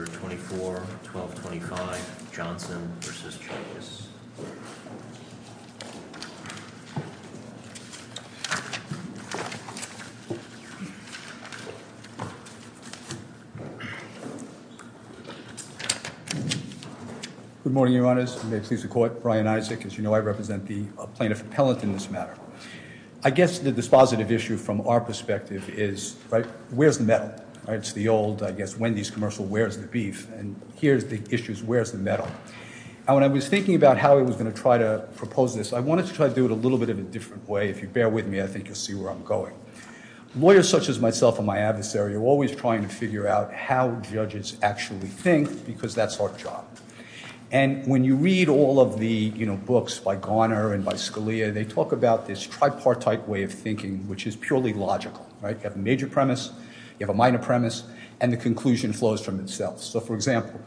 Good morning, your honors. May it please the court. Brian Isaac, as you know, I represent the plaintiff appellant in this matter. I guess the dispositive issue from our perspective is, right, where's the metal? It's the old, I guess, Wendy's commercial, where's the beef? And here's the issues, where's the metal? And when I was thinking about how I was going to try to propose this, I wanted to try to do it a little bit of a different way. If you bear with me, I think you'll see where I'm going. Lawyers such as myself and my adversary are always trying to figure out how judges actually think because that's our job. And when you read all of the, you know, books by Garner and by Scalia, they talk about this tripartite way of thinking, which is purely logical, right? You have a major premise, you have a minor premise, and the conclusion flows from itself. So for example,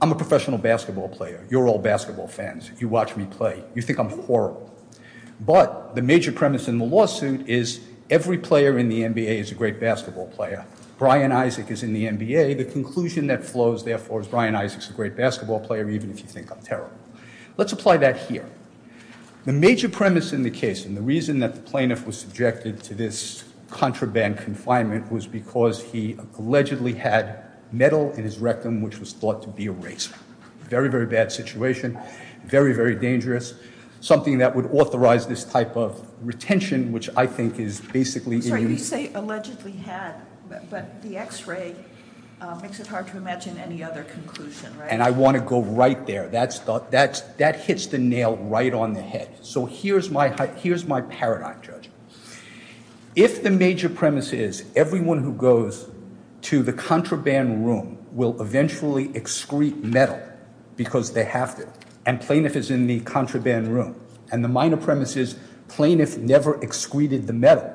I'm a professional basketball player. You're all basketball fans. You watch me play. You think I'm horrible. But the major premise in the lawsuit is every player in the NBA is a great basketball player. Brian Isaac is in the NBA. The conclusion that flows, therefore, is Brian Isaac's a great basketball player, even if you think I'm terrible. Let's apply that here. The major premise in the case, and the reason that the plaintiff was subjected to this contraband confinement was because he allegedly had metal in his rectum, which was thought to be a razor. Very, very bad situation. Very, very dangerous. Something that would authorize this type of retention, which I think is basically- Sorry, you say allegedly had, but the x-ray makes it hard to imagine any other conclusion, right? And I want to go right there. That hits the nail right on the head. So here's my paradigm, Judge. If the major premise is everyone who goes to the contraband room will eventually excrete metal because they have to, and plaintiff is in the contraband room, and the minor premise is plaintiff never excreted the metal,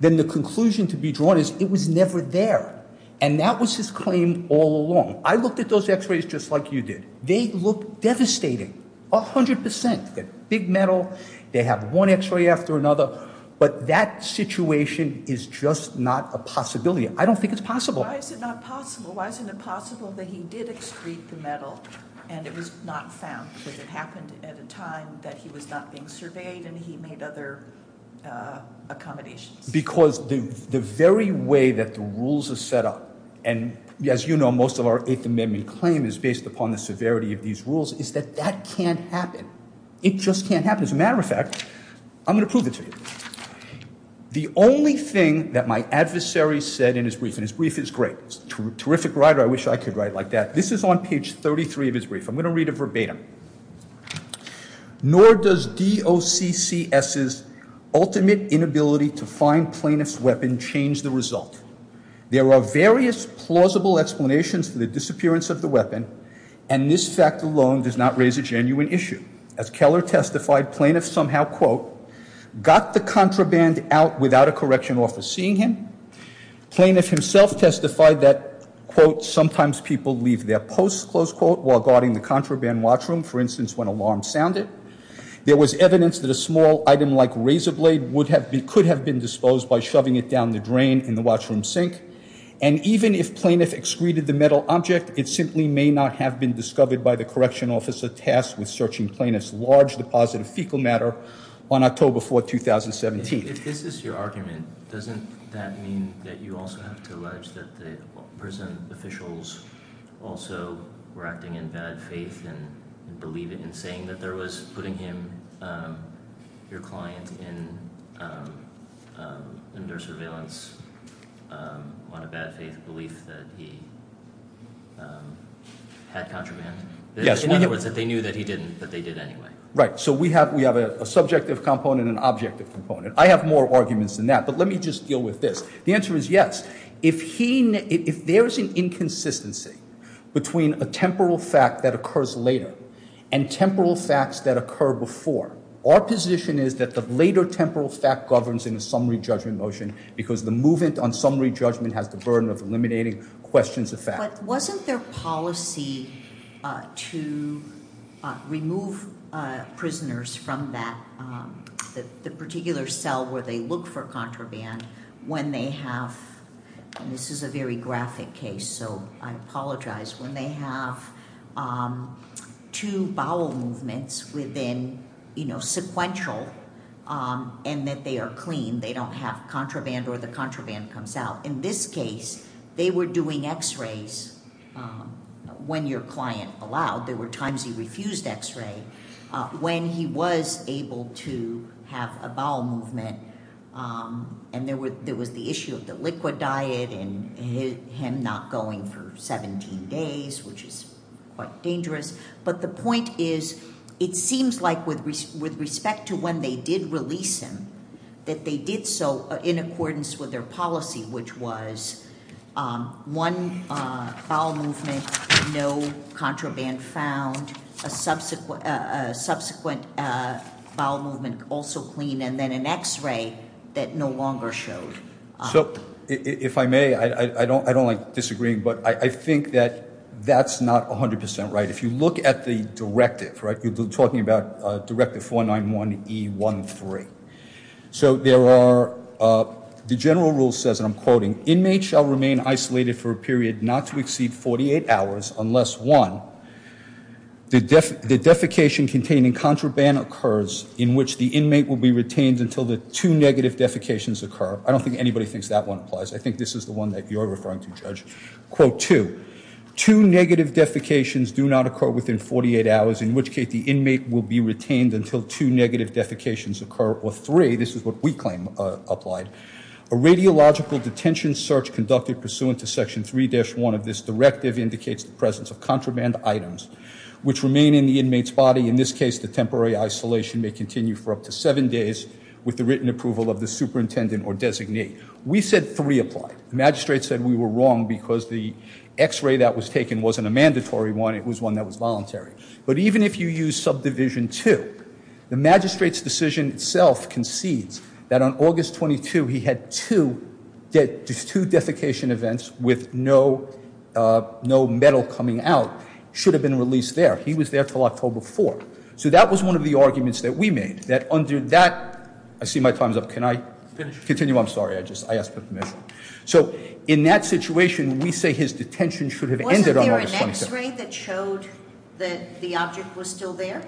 then the conclusion to be drawn is it was never there, and that was his claim all along. I looked at those x-rays just like you did. They look devastating, 100%. Big metal, they have one x-ray after another, but that situation is just not a possibility. I don't think it's possible. Why is it not possible? Why isn't it possible that he did excrete the metal, and it was not found? Because it happened at a time that he was not being surveyed, and he made other accommodations. Because the very way that the rules are set up, and as you know, most of our Eighth Amendment claim is based upon the severity of these rules, is that that can't happen. It just can't happen. As a matter of fact, I'm going to prove it to you. The only thing that my adversary said in his brief, and his brief is great. He's a terrific writer. I wish I could write like that. This is on page 33 of his brief. I'm going to read it verbatim. Nor does DOCCS's ultimate inability to find plaintiff's weapon change the result. There are various plausible explanations for the disappearance of the weapon, and this fact alone does not raise a genuine issue. As Keller testified, plaintiffs somehow quote, got the contraband out without a correction officer seeing him. Plaintiff himself testified that quote, sometimes people leave their posts close quote, while guarding the contraband watch room, for instance, when alarms sounded. There was evidence that a small item like razor blade could have been disposed by shoving it down the drain in the watch room sink. And even if plaintiff excreted the metal object, it simply may not have been discovered by the correction officer tasked with searching plaintiff's large deposit of fecal matter on October 4th, 2017. If this is your argument, doesn't that mean that you also have to allege that the prison officials also were acting in bad faith and believe it in saying that there was putting him, your client, under surveillance on a bad faith belief that he had contraband? Yes. In other words, that they knew that he didn't, but they did anyway. Right. So we have a subjective component and an objective component. I have more arguments than that, but let me just deal with this. The answer is yes. If he, if there's an inconsistency between a temporal fact that occurs later and temporal facts that occur before, our position is that the later temporal fact governs in a summary judgment motion because the movement on summary judgment has the burden of eliminating questions of fact. But wasn't there policy to remove prisoners from that, the particular cell where they look for contraband when they have, and this is a very graphic case, so I apologize, when they have two bowel movements within sequential and that they are clean, they don't have contraband or the contraband comes out. In this case, they were doing x-rays when your client allowed. There were times he refused x-ray when he was able to have a bowel movement and there was the issue of the liquid diet and him not going for 17 days, which is quite dangerous. But the point is, it seems like with respect to when they did release him, that they did so in accordance with their policy, which was one bowel movement, no contraband found, a subsequent bowel movement also clean, and then an x-ray that no longer showed. So if I may, I don't like disagreeing, but I think that that's not 100% right. If you look at the directive, you're talking about Directive 491E13. So there are, the general rule says, and I'm quoting, inmates shall remain isolated for a period not to exceed 48 hours unless, one, the defecation containing contraband occurs in which the inmate will be retained until the two negative defecations occur. I don't think anybody thinks that one applies. I think this is the one you're referring to, Judge. Quote, two, two negative defecations do not occur within 48 hours, in which case the inmate will be retained until two negative defecations occur, or three, this is what we claim applied, a radiological detention search conducted pursuant to Section 3-1 of this directive indicates the presence of contraband items which remain in the inmate's body. In this case, the temporary isolation may continue for up to seven days with the written approval of the superintendent or designee. We said three applied. The magistrate said we were wrong because the x-ray that was taken wasn't a mandatory one, it was one that was voluntary. But even if you use Subdivision 2, the magistrate's decision itself concedes that on August 22 he had two defecation events with no metal coming out should have been released there. He was there until October 4. So that was one of the arguments that we made, that under that, I see my time's up, can I continue? I'm sorry, I just, I asked for permission. So in that situation, we say his detention should have ended on August 22. Wasn't there an x-ray that showed that the object was still there?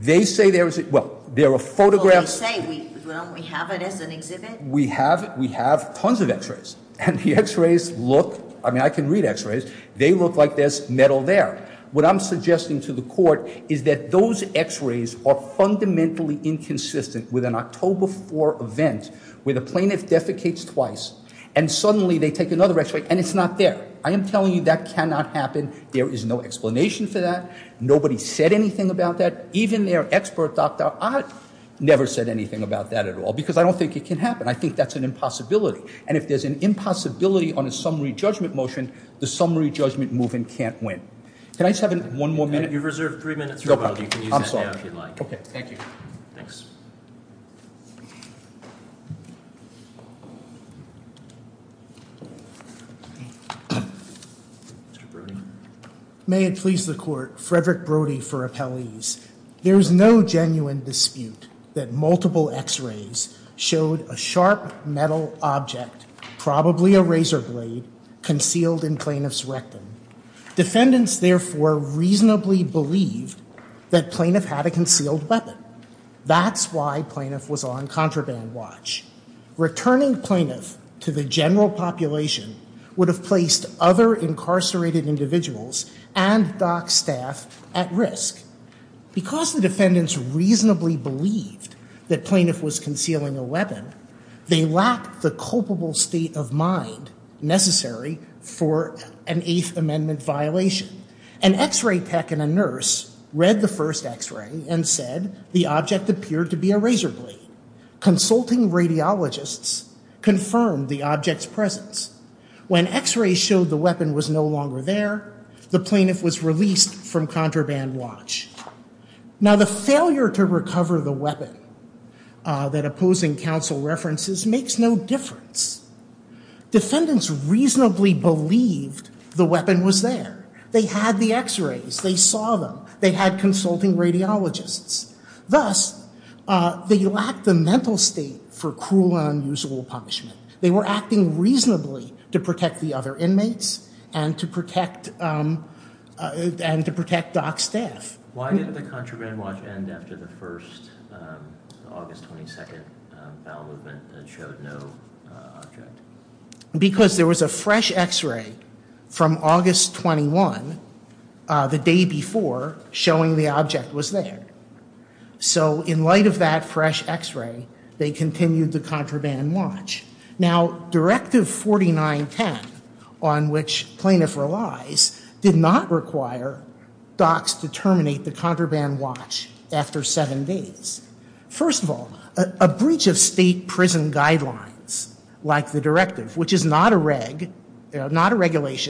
They say there is, well, there are photographs. Well, they say we, well, we have it as an exhibit. We have it, we have tons of x-rays, and the x-rays look, I mean, I can read x-rays, they look like there's metal there. What I'm suggesting to the court is that those x-rays are fundamentally inconsistent with an October 4 event where the plaintiff defecates twice and suddenly they take another x-ray and it's not there. I am telling you that cannot happen. There is no explanation for that. Nobody said anything about that. Even their expert doctor, I never said anything about that at all because I don't think it can happen. I think that's an impossibility, and if there's an impossibility on a summary judgment move-in can't win. Can I just have one more minute? You've reserved three minutes. May it please the court. Frederick Brody for appellees. There is no genuine dispute that multiple x-rays showed a sharp metal object, probably a razor blade, concealed in plaintiff's rectum. Defendants therefore reasonably believed that plaintiff had a concealed weapon. That's why plaintiff was on contraband watch. Returning plaintiff to the general population would have placed other incarcerated individuals and dock staff at risk. Because the defendants reasonably believed that plaintiff was concealing a weapon, they lacked the culpable state of mind necessary for an Eighth Amendment violation. An x-ray tech and a nurse read the first x-ray and said the object appeared to be a razor blade. Consulting radiologists confirmed the object's presence. When x-rays showed the weapon was no longer there, the plaintiff was released from contraband watch. Now the failure to recover the weapon that opposing counsel references makes no difference. Defendants reasonably believed the weapon was there. They had the x-rays. They saw them. They had consulting radiologists. Thus, they lacked the mental state for cruel and unusual punishment. They were acting reasonably to protect the other inmates and to protect dock staff. Why didn't the contraband watch end after the first August 22nd battle movement that showed no object? Because there was a fresh x-ray from August 21, the day before, showing the object was there. So in light of that fresh x-ray, they continued the contraband watch. Now Directive 4910, on which plaintiff relies, did not require docs to terminate the contraband watch after seven days. First of all, a breach of state prison guidelines, like the Directive, which is not a regulation,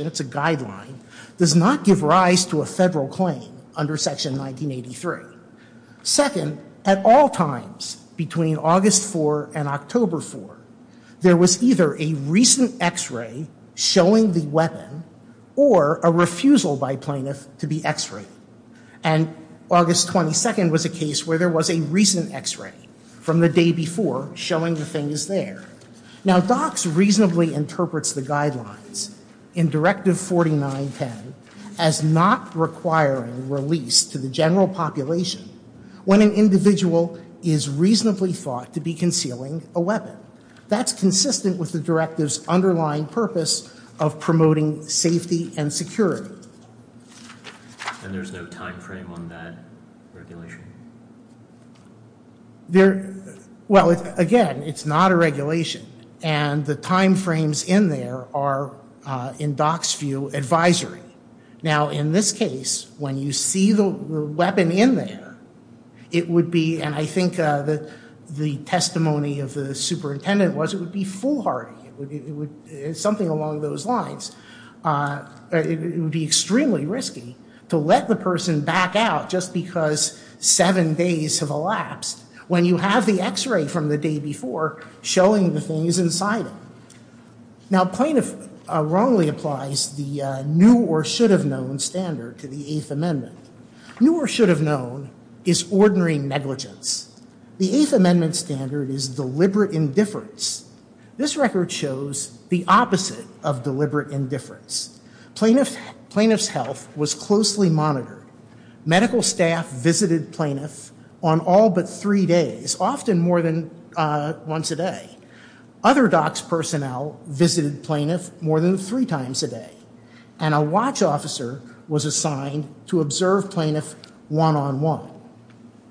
it's a guideline, does not give rise to a federal claim under Section 1983. Second, at all times between August 4 and October 4, there was either a recent x-ray showing the weapon or a refusal by plaintiff to be x-rayed. And August 22nd was a case where there was a recent x-ray from the day before showing the thing is there. Now docs reasonably interprets the guidelines in Directive 4910 as not requiring release to the general population when an individual is reasonably thought to be concealing a weapon. That's consistent with the Directive's underlying purpose of promoting safety and security. And there's no time frame on that regulation? Well, again, it's not a regulation. And the time frames in there are, in docs view, advisory. Now in this case, when you see the weapon in there, it would be, and I think the testimony of the superintendent was, it would be foolhardy. It's something along those lines. It would be that seven days have elapsed when you have the x-ray from the day before showing the things inside it. Now plaintiff wrongly applies the new or should have known standard to the Eighth Amendment. New or should have known is ordinary negligence. The Eighth Amendment standard is deliberate indifference. This record shows the opposite of deliberate indifference. Plaintiff's health was closely monitored. Medical staff visited plaintiff on all but three days, often more than once a day. Other docs personnel visited plaintiff more than three times a day. And a watch officer was assigned to observe plaintiff one-on-one.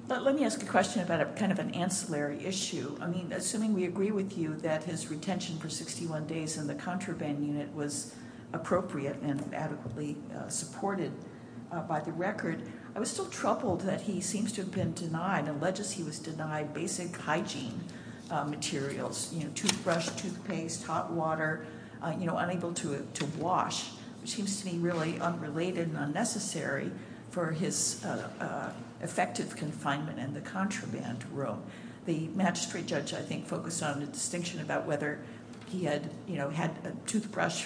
But let me ask a question about a kind of an ancillary issue. I mean, assuming we agree with you that his retention for 61 days in the contraband unit was appropriate and adequately supported by the record, I was still troubled that he seems to have been denied, alleged he was denied basic hygiene materials, you know, toothbrush, toothpaste, hot water, you know, unable to wash, which seems to be really unrelated and unnecessary for his effective confinement in the contraband room. The magistrate judge, I think, focused on a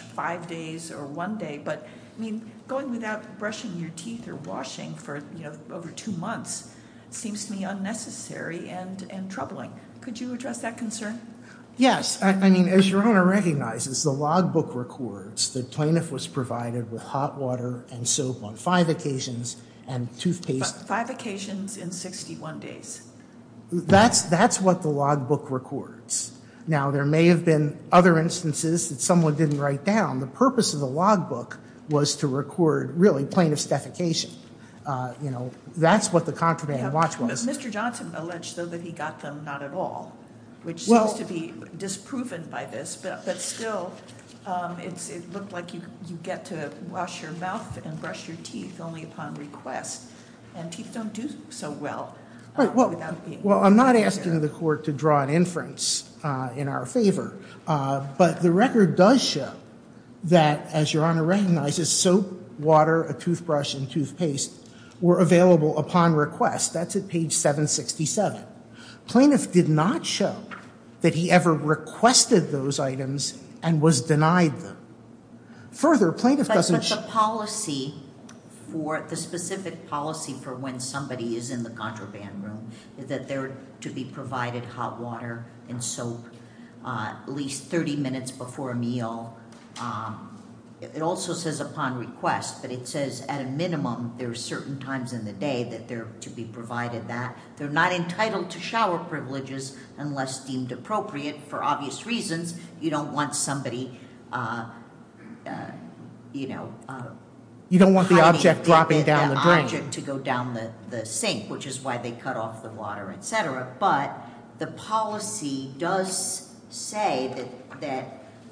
five days or one day, but I mean, going without brushing your teeth or washing for, you know, over two months seems to me unnecessary and troubling. Could you address that concern? Yes. I mean, as your Honor recognizes, the logbook records that plaintiff was provided with hot water and soap on five occasions and toothpaste. Five occasions in 61 days. That's what the logbook records. Now, there may have been other instances that someone didn't write down. The purpose of the logbook was to record, really, plaintiff's defecation. You know, that's what the contraband watch was. Mr. Johnson alleged, though, that he got them not at all, which seems to be disproven by this. But still, it looked like you get to wash your mouth and brush your teeth only upon request and teeth don't do so well. Right. Well, I'm not asking the court to draw an inference in our favor, but the record does show that, as your Honor recognizes, soap, water, a toothbrush, and toothpaste were available upon request. That's at page 767. Plaintiff did not show that he ever requested those items and was denied them. Further, plaintiff doesn't... But the policy for the specific policy for when somebody is in the contraband room is that they're to be provided hot water and soap at least 30 minutes before a meal. It also says upon request, but it says at a minimum there are certain times in the day that they're to be provided that. They're not entitled to shower privileges unless deemed appropriate for obvious reasons. You don't want somebody... You don't want the object dropping down the drain. You don't want the object to go down the sink, which is why they cut off the water, etc. But the policy does say that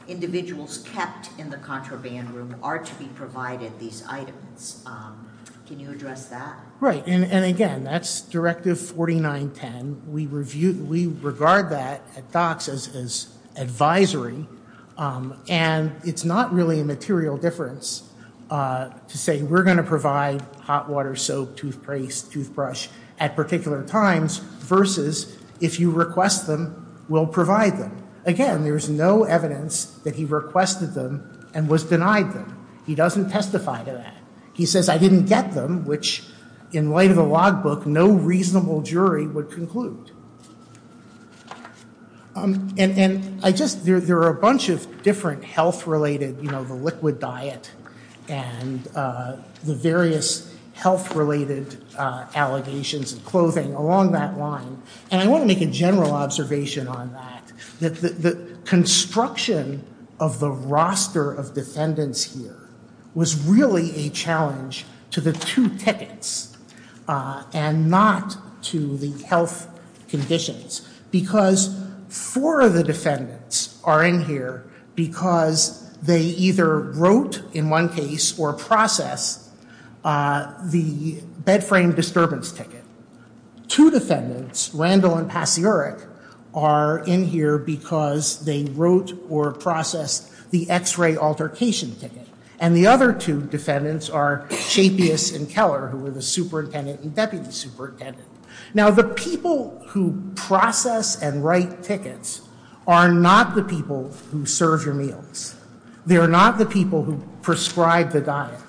individuals kept in the contraband room are to be provided these items. Can you address that? Right. And again, that's Directive 4910. We regard that at DOCSIS as advisory, and it's not really a material difference to say we're going to provide hot water, soap, toothpaste, toothbrush at particular times versus if you request them, we'll provide them. Again, there's no evidence that he requested them and was denied them. He doesn't testify to that. He says I didn't get them, which in light of the logbook, no reasonable jury would conclude. And I just... There are a bunch of different health-related, you know, the liquid diet and the various health-related allegations of clothing along that line, and I want to make a general observation on that. The construction of the roster of defendants here was really a challenge to the two tickets and not to the health conditions, because four of the defendants are in here because they either wrote in one case or processed the bed frame disturbance ticket. Two defendants, Randall and Pasiorek, are in here because they wrote or processed the x-ray altercation ticket, and the other two defendants are Shapius and Keller, who were the superintendent and deputy superintendent. Now, the people who process and write tickets are not the people who serve your meals. They are not the people who prescribe the diet.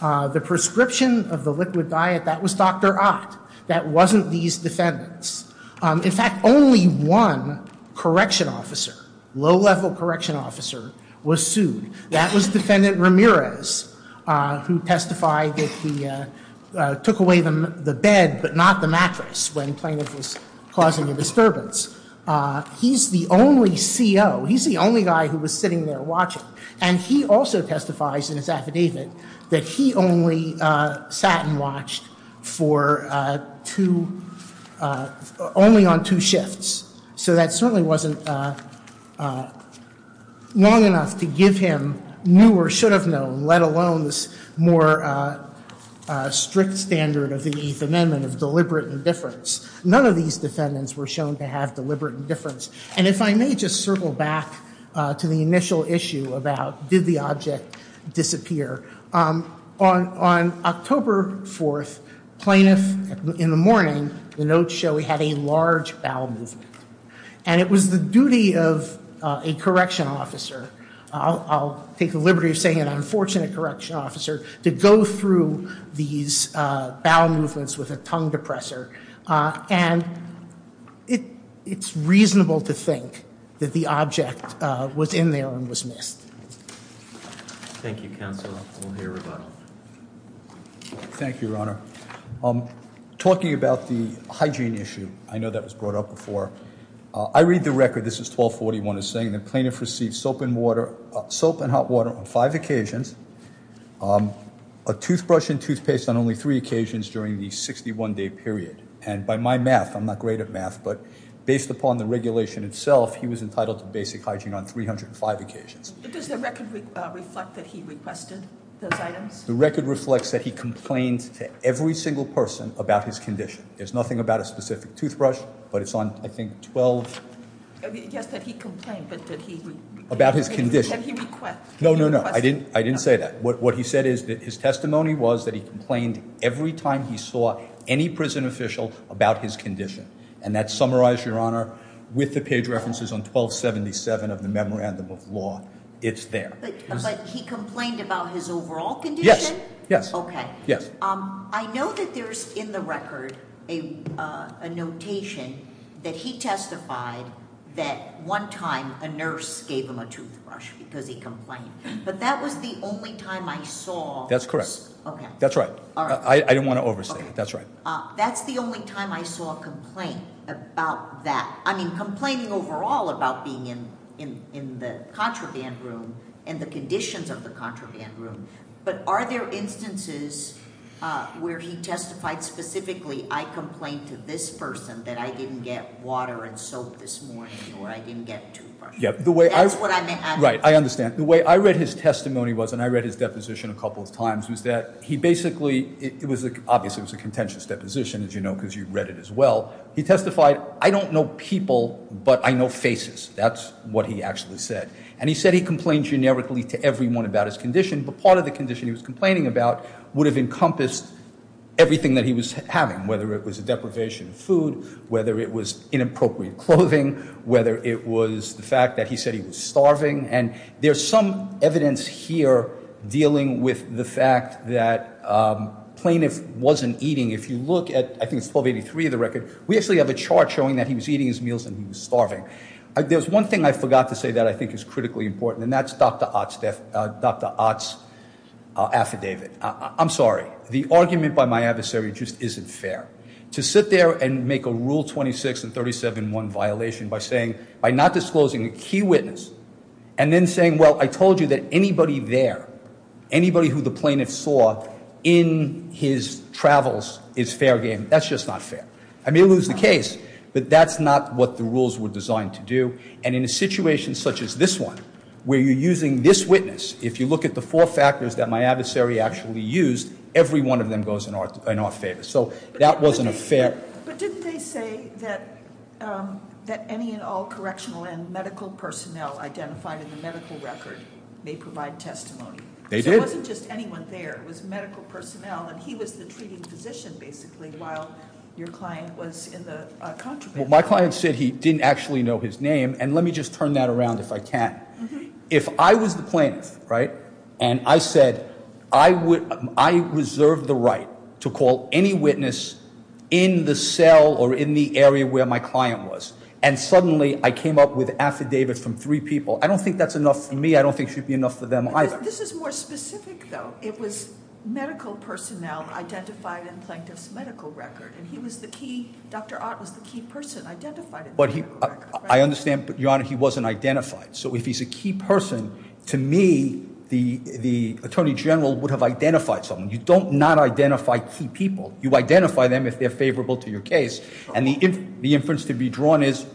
The prescription of the liquid diet, that was Dr. Ott. That wasn't these defendants. In fact, only one correction officer, low-level correction officer, was sued. That was defendant Ramirez, who testified that he took away the bed but not the mattress when plaintiff was causing a disturbance. He's the only CO. He's the only guy who was sitting there watching, and he also So that certainly wasn't long enough to give him knew or should have known, let alone this more strict standard of the Eighth Amendment of deliberate indifference. None of these defendants were shown to have deliberate indifference, and if I may just circle back to the initial issue about did the object disappear. On October 4th, plaintiff, in the morning, the notes show he had a large bowel movement, and it was the duty of a correction officer. I'll take the liberty of saying an unfortunate correction officer to go through these bowel movements with a tongue depressor, and it's reasonable to think that the object was in there and was missed. Thank you, counsel. We'll hear about it. Thank you, your honor. Talking about the hygiene issue, I know that was brought up before. I read the record, this is 1241, it's saying the plaintiff received soap and water, soap and hot water on five occasions, a toothbrush and toothpaste on only three occasions during the 61-day period, and by my math, I'm not great at math, but based upon the regulation itself, he was entitled to basic hygiene on 305 occasions. Does the record reflect that he requested those items? The record reflects that he complained to every single person about his condition. There's nothing about a specific toothbrush, but it's on I think 12... Yes, that he complained, but that he... About his condition. No, no, no, I didn't say that. What he said is that his testimony was that he complained every time he saw any prison official about his condition, and that's summarized, your honor, with the page references on 1277 of the Memorandum of Law. It's there. But he complained about his overall condition? Yes, yes. Okay. Yes. I know that there's in the record a notation that he testified that one time a nurse gave him a toothbrush because he complained, but that was the only time I saw... That's correct. Okay. That's right. I didn't want to overstate it. That's right. That's the only time I saw a complaint about that. I mean, complaining overall about being in the contraband room and the conditions of the I complained to this person that I didn't get water and soap this morning, or I didn't get toothbrush. That's what I meant. Right. I understand. The way I read his testimony was, and I read his deposition a couple of times, was that he basically... Obviously, it was a contentious deposition, as you know, because you read it as well. He testified, I don't know people, but I know faces. That's what he actually said. And he said he complained generically to everyone about his condition, but part of the condition he was complaining about would have encompassed everything that he was having, whether it was a deprivation of food, whether it was inappropriate clothing, whether it was the fact that he said he was starving. And there's some evidence here dealing with the fact that plaintiff wasn't eating. If you look at, I think it's 1283 of the record, we actually have a chart showing that he was eating his meals and he was starving. There's one thing I forgot to say that I think is critically important, and that's Dr. Ott's affidavit. I'm sorry. The argument by my adversary just isn't fair. To sit there and make a Rule 26 and 37-1 violation by saying, by not disclosing a key witness, and then saying, well, I told you that anybody there, anybody who the plaintiff saw in his travels is fair game, that's just not fair. I may lose the case, but that's not what the rules were designed to do. And in a situation such as this one, where you're using this witness, if you look at the four factors that my adversary actually used, every one of them goes in our favor. So that wasn't a fair- But didn't they say that any and all correctional and medical personnel identified in the medical record may provide testimony? They did. So it wasn't just anyone there. It was medical personnel, and he was the treating physician, basically, while your client was in the contraband. Well, my client said he didn't actually know his name, and let me just turn that around if I can. If I was the plaintiff, right, and I said, I reserve the right to call any witness in the cell or in the area where my client was, and suddenly I came up with affidavits from three people, I don't think that's enough for me. I don't think it should be enough for them either. This is more specific, though. It was medical personnel identified in the plaintiff's medical record, and he was the key, Dr. Ott was the key person identified in the medical record, right? I understand, but your honor, he wasn't identified. So if he's a key person, to me, the attorney general would have identified someone. You don't not identify key people. You identify them if they're favorable to your case, and the inference to be drawn is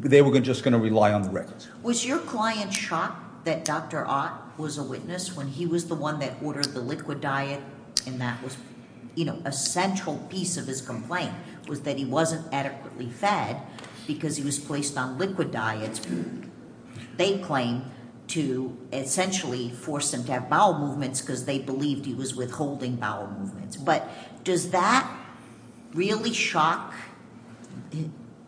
they were just going to rely on the records. Was your client shocked that Dr. Ott was a witness when he was the one that ordered the liquid diet, and that was, you know, a central piece of his complaint, was that he wasn't adequately fed because he was placed on liquid diets. They claim to essentially force him to have bowel movements because they believed he was withholding bowel movements, but does that really shock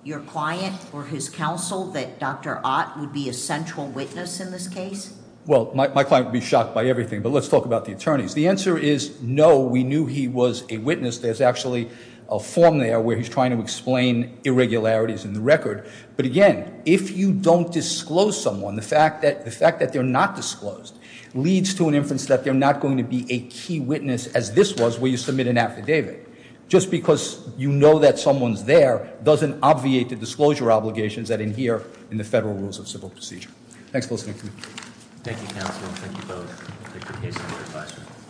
your client or his counsel that Dr. Ott would be a central witness in this case? Well, my client would be shocked by everything, but let's talk about the attorneys. The answer is no, we knew he was a witness. There's actually a form there where he's trying to explain irregularities in the record, but again, if you don't disclose someone, the fact that they're not disclosed leads to an inference that they're not going to be a key witness as this was where you submit an affidavit. Just because you know that someone's there doesn't obviate the disclosure obligations that in here in the Federal Rules of zumwalt.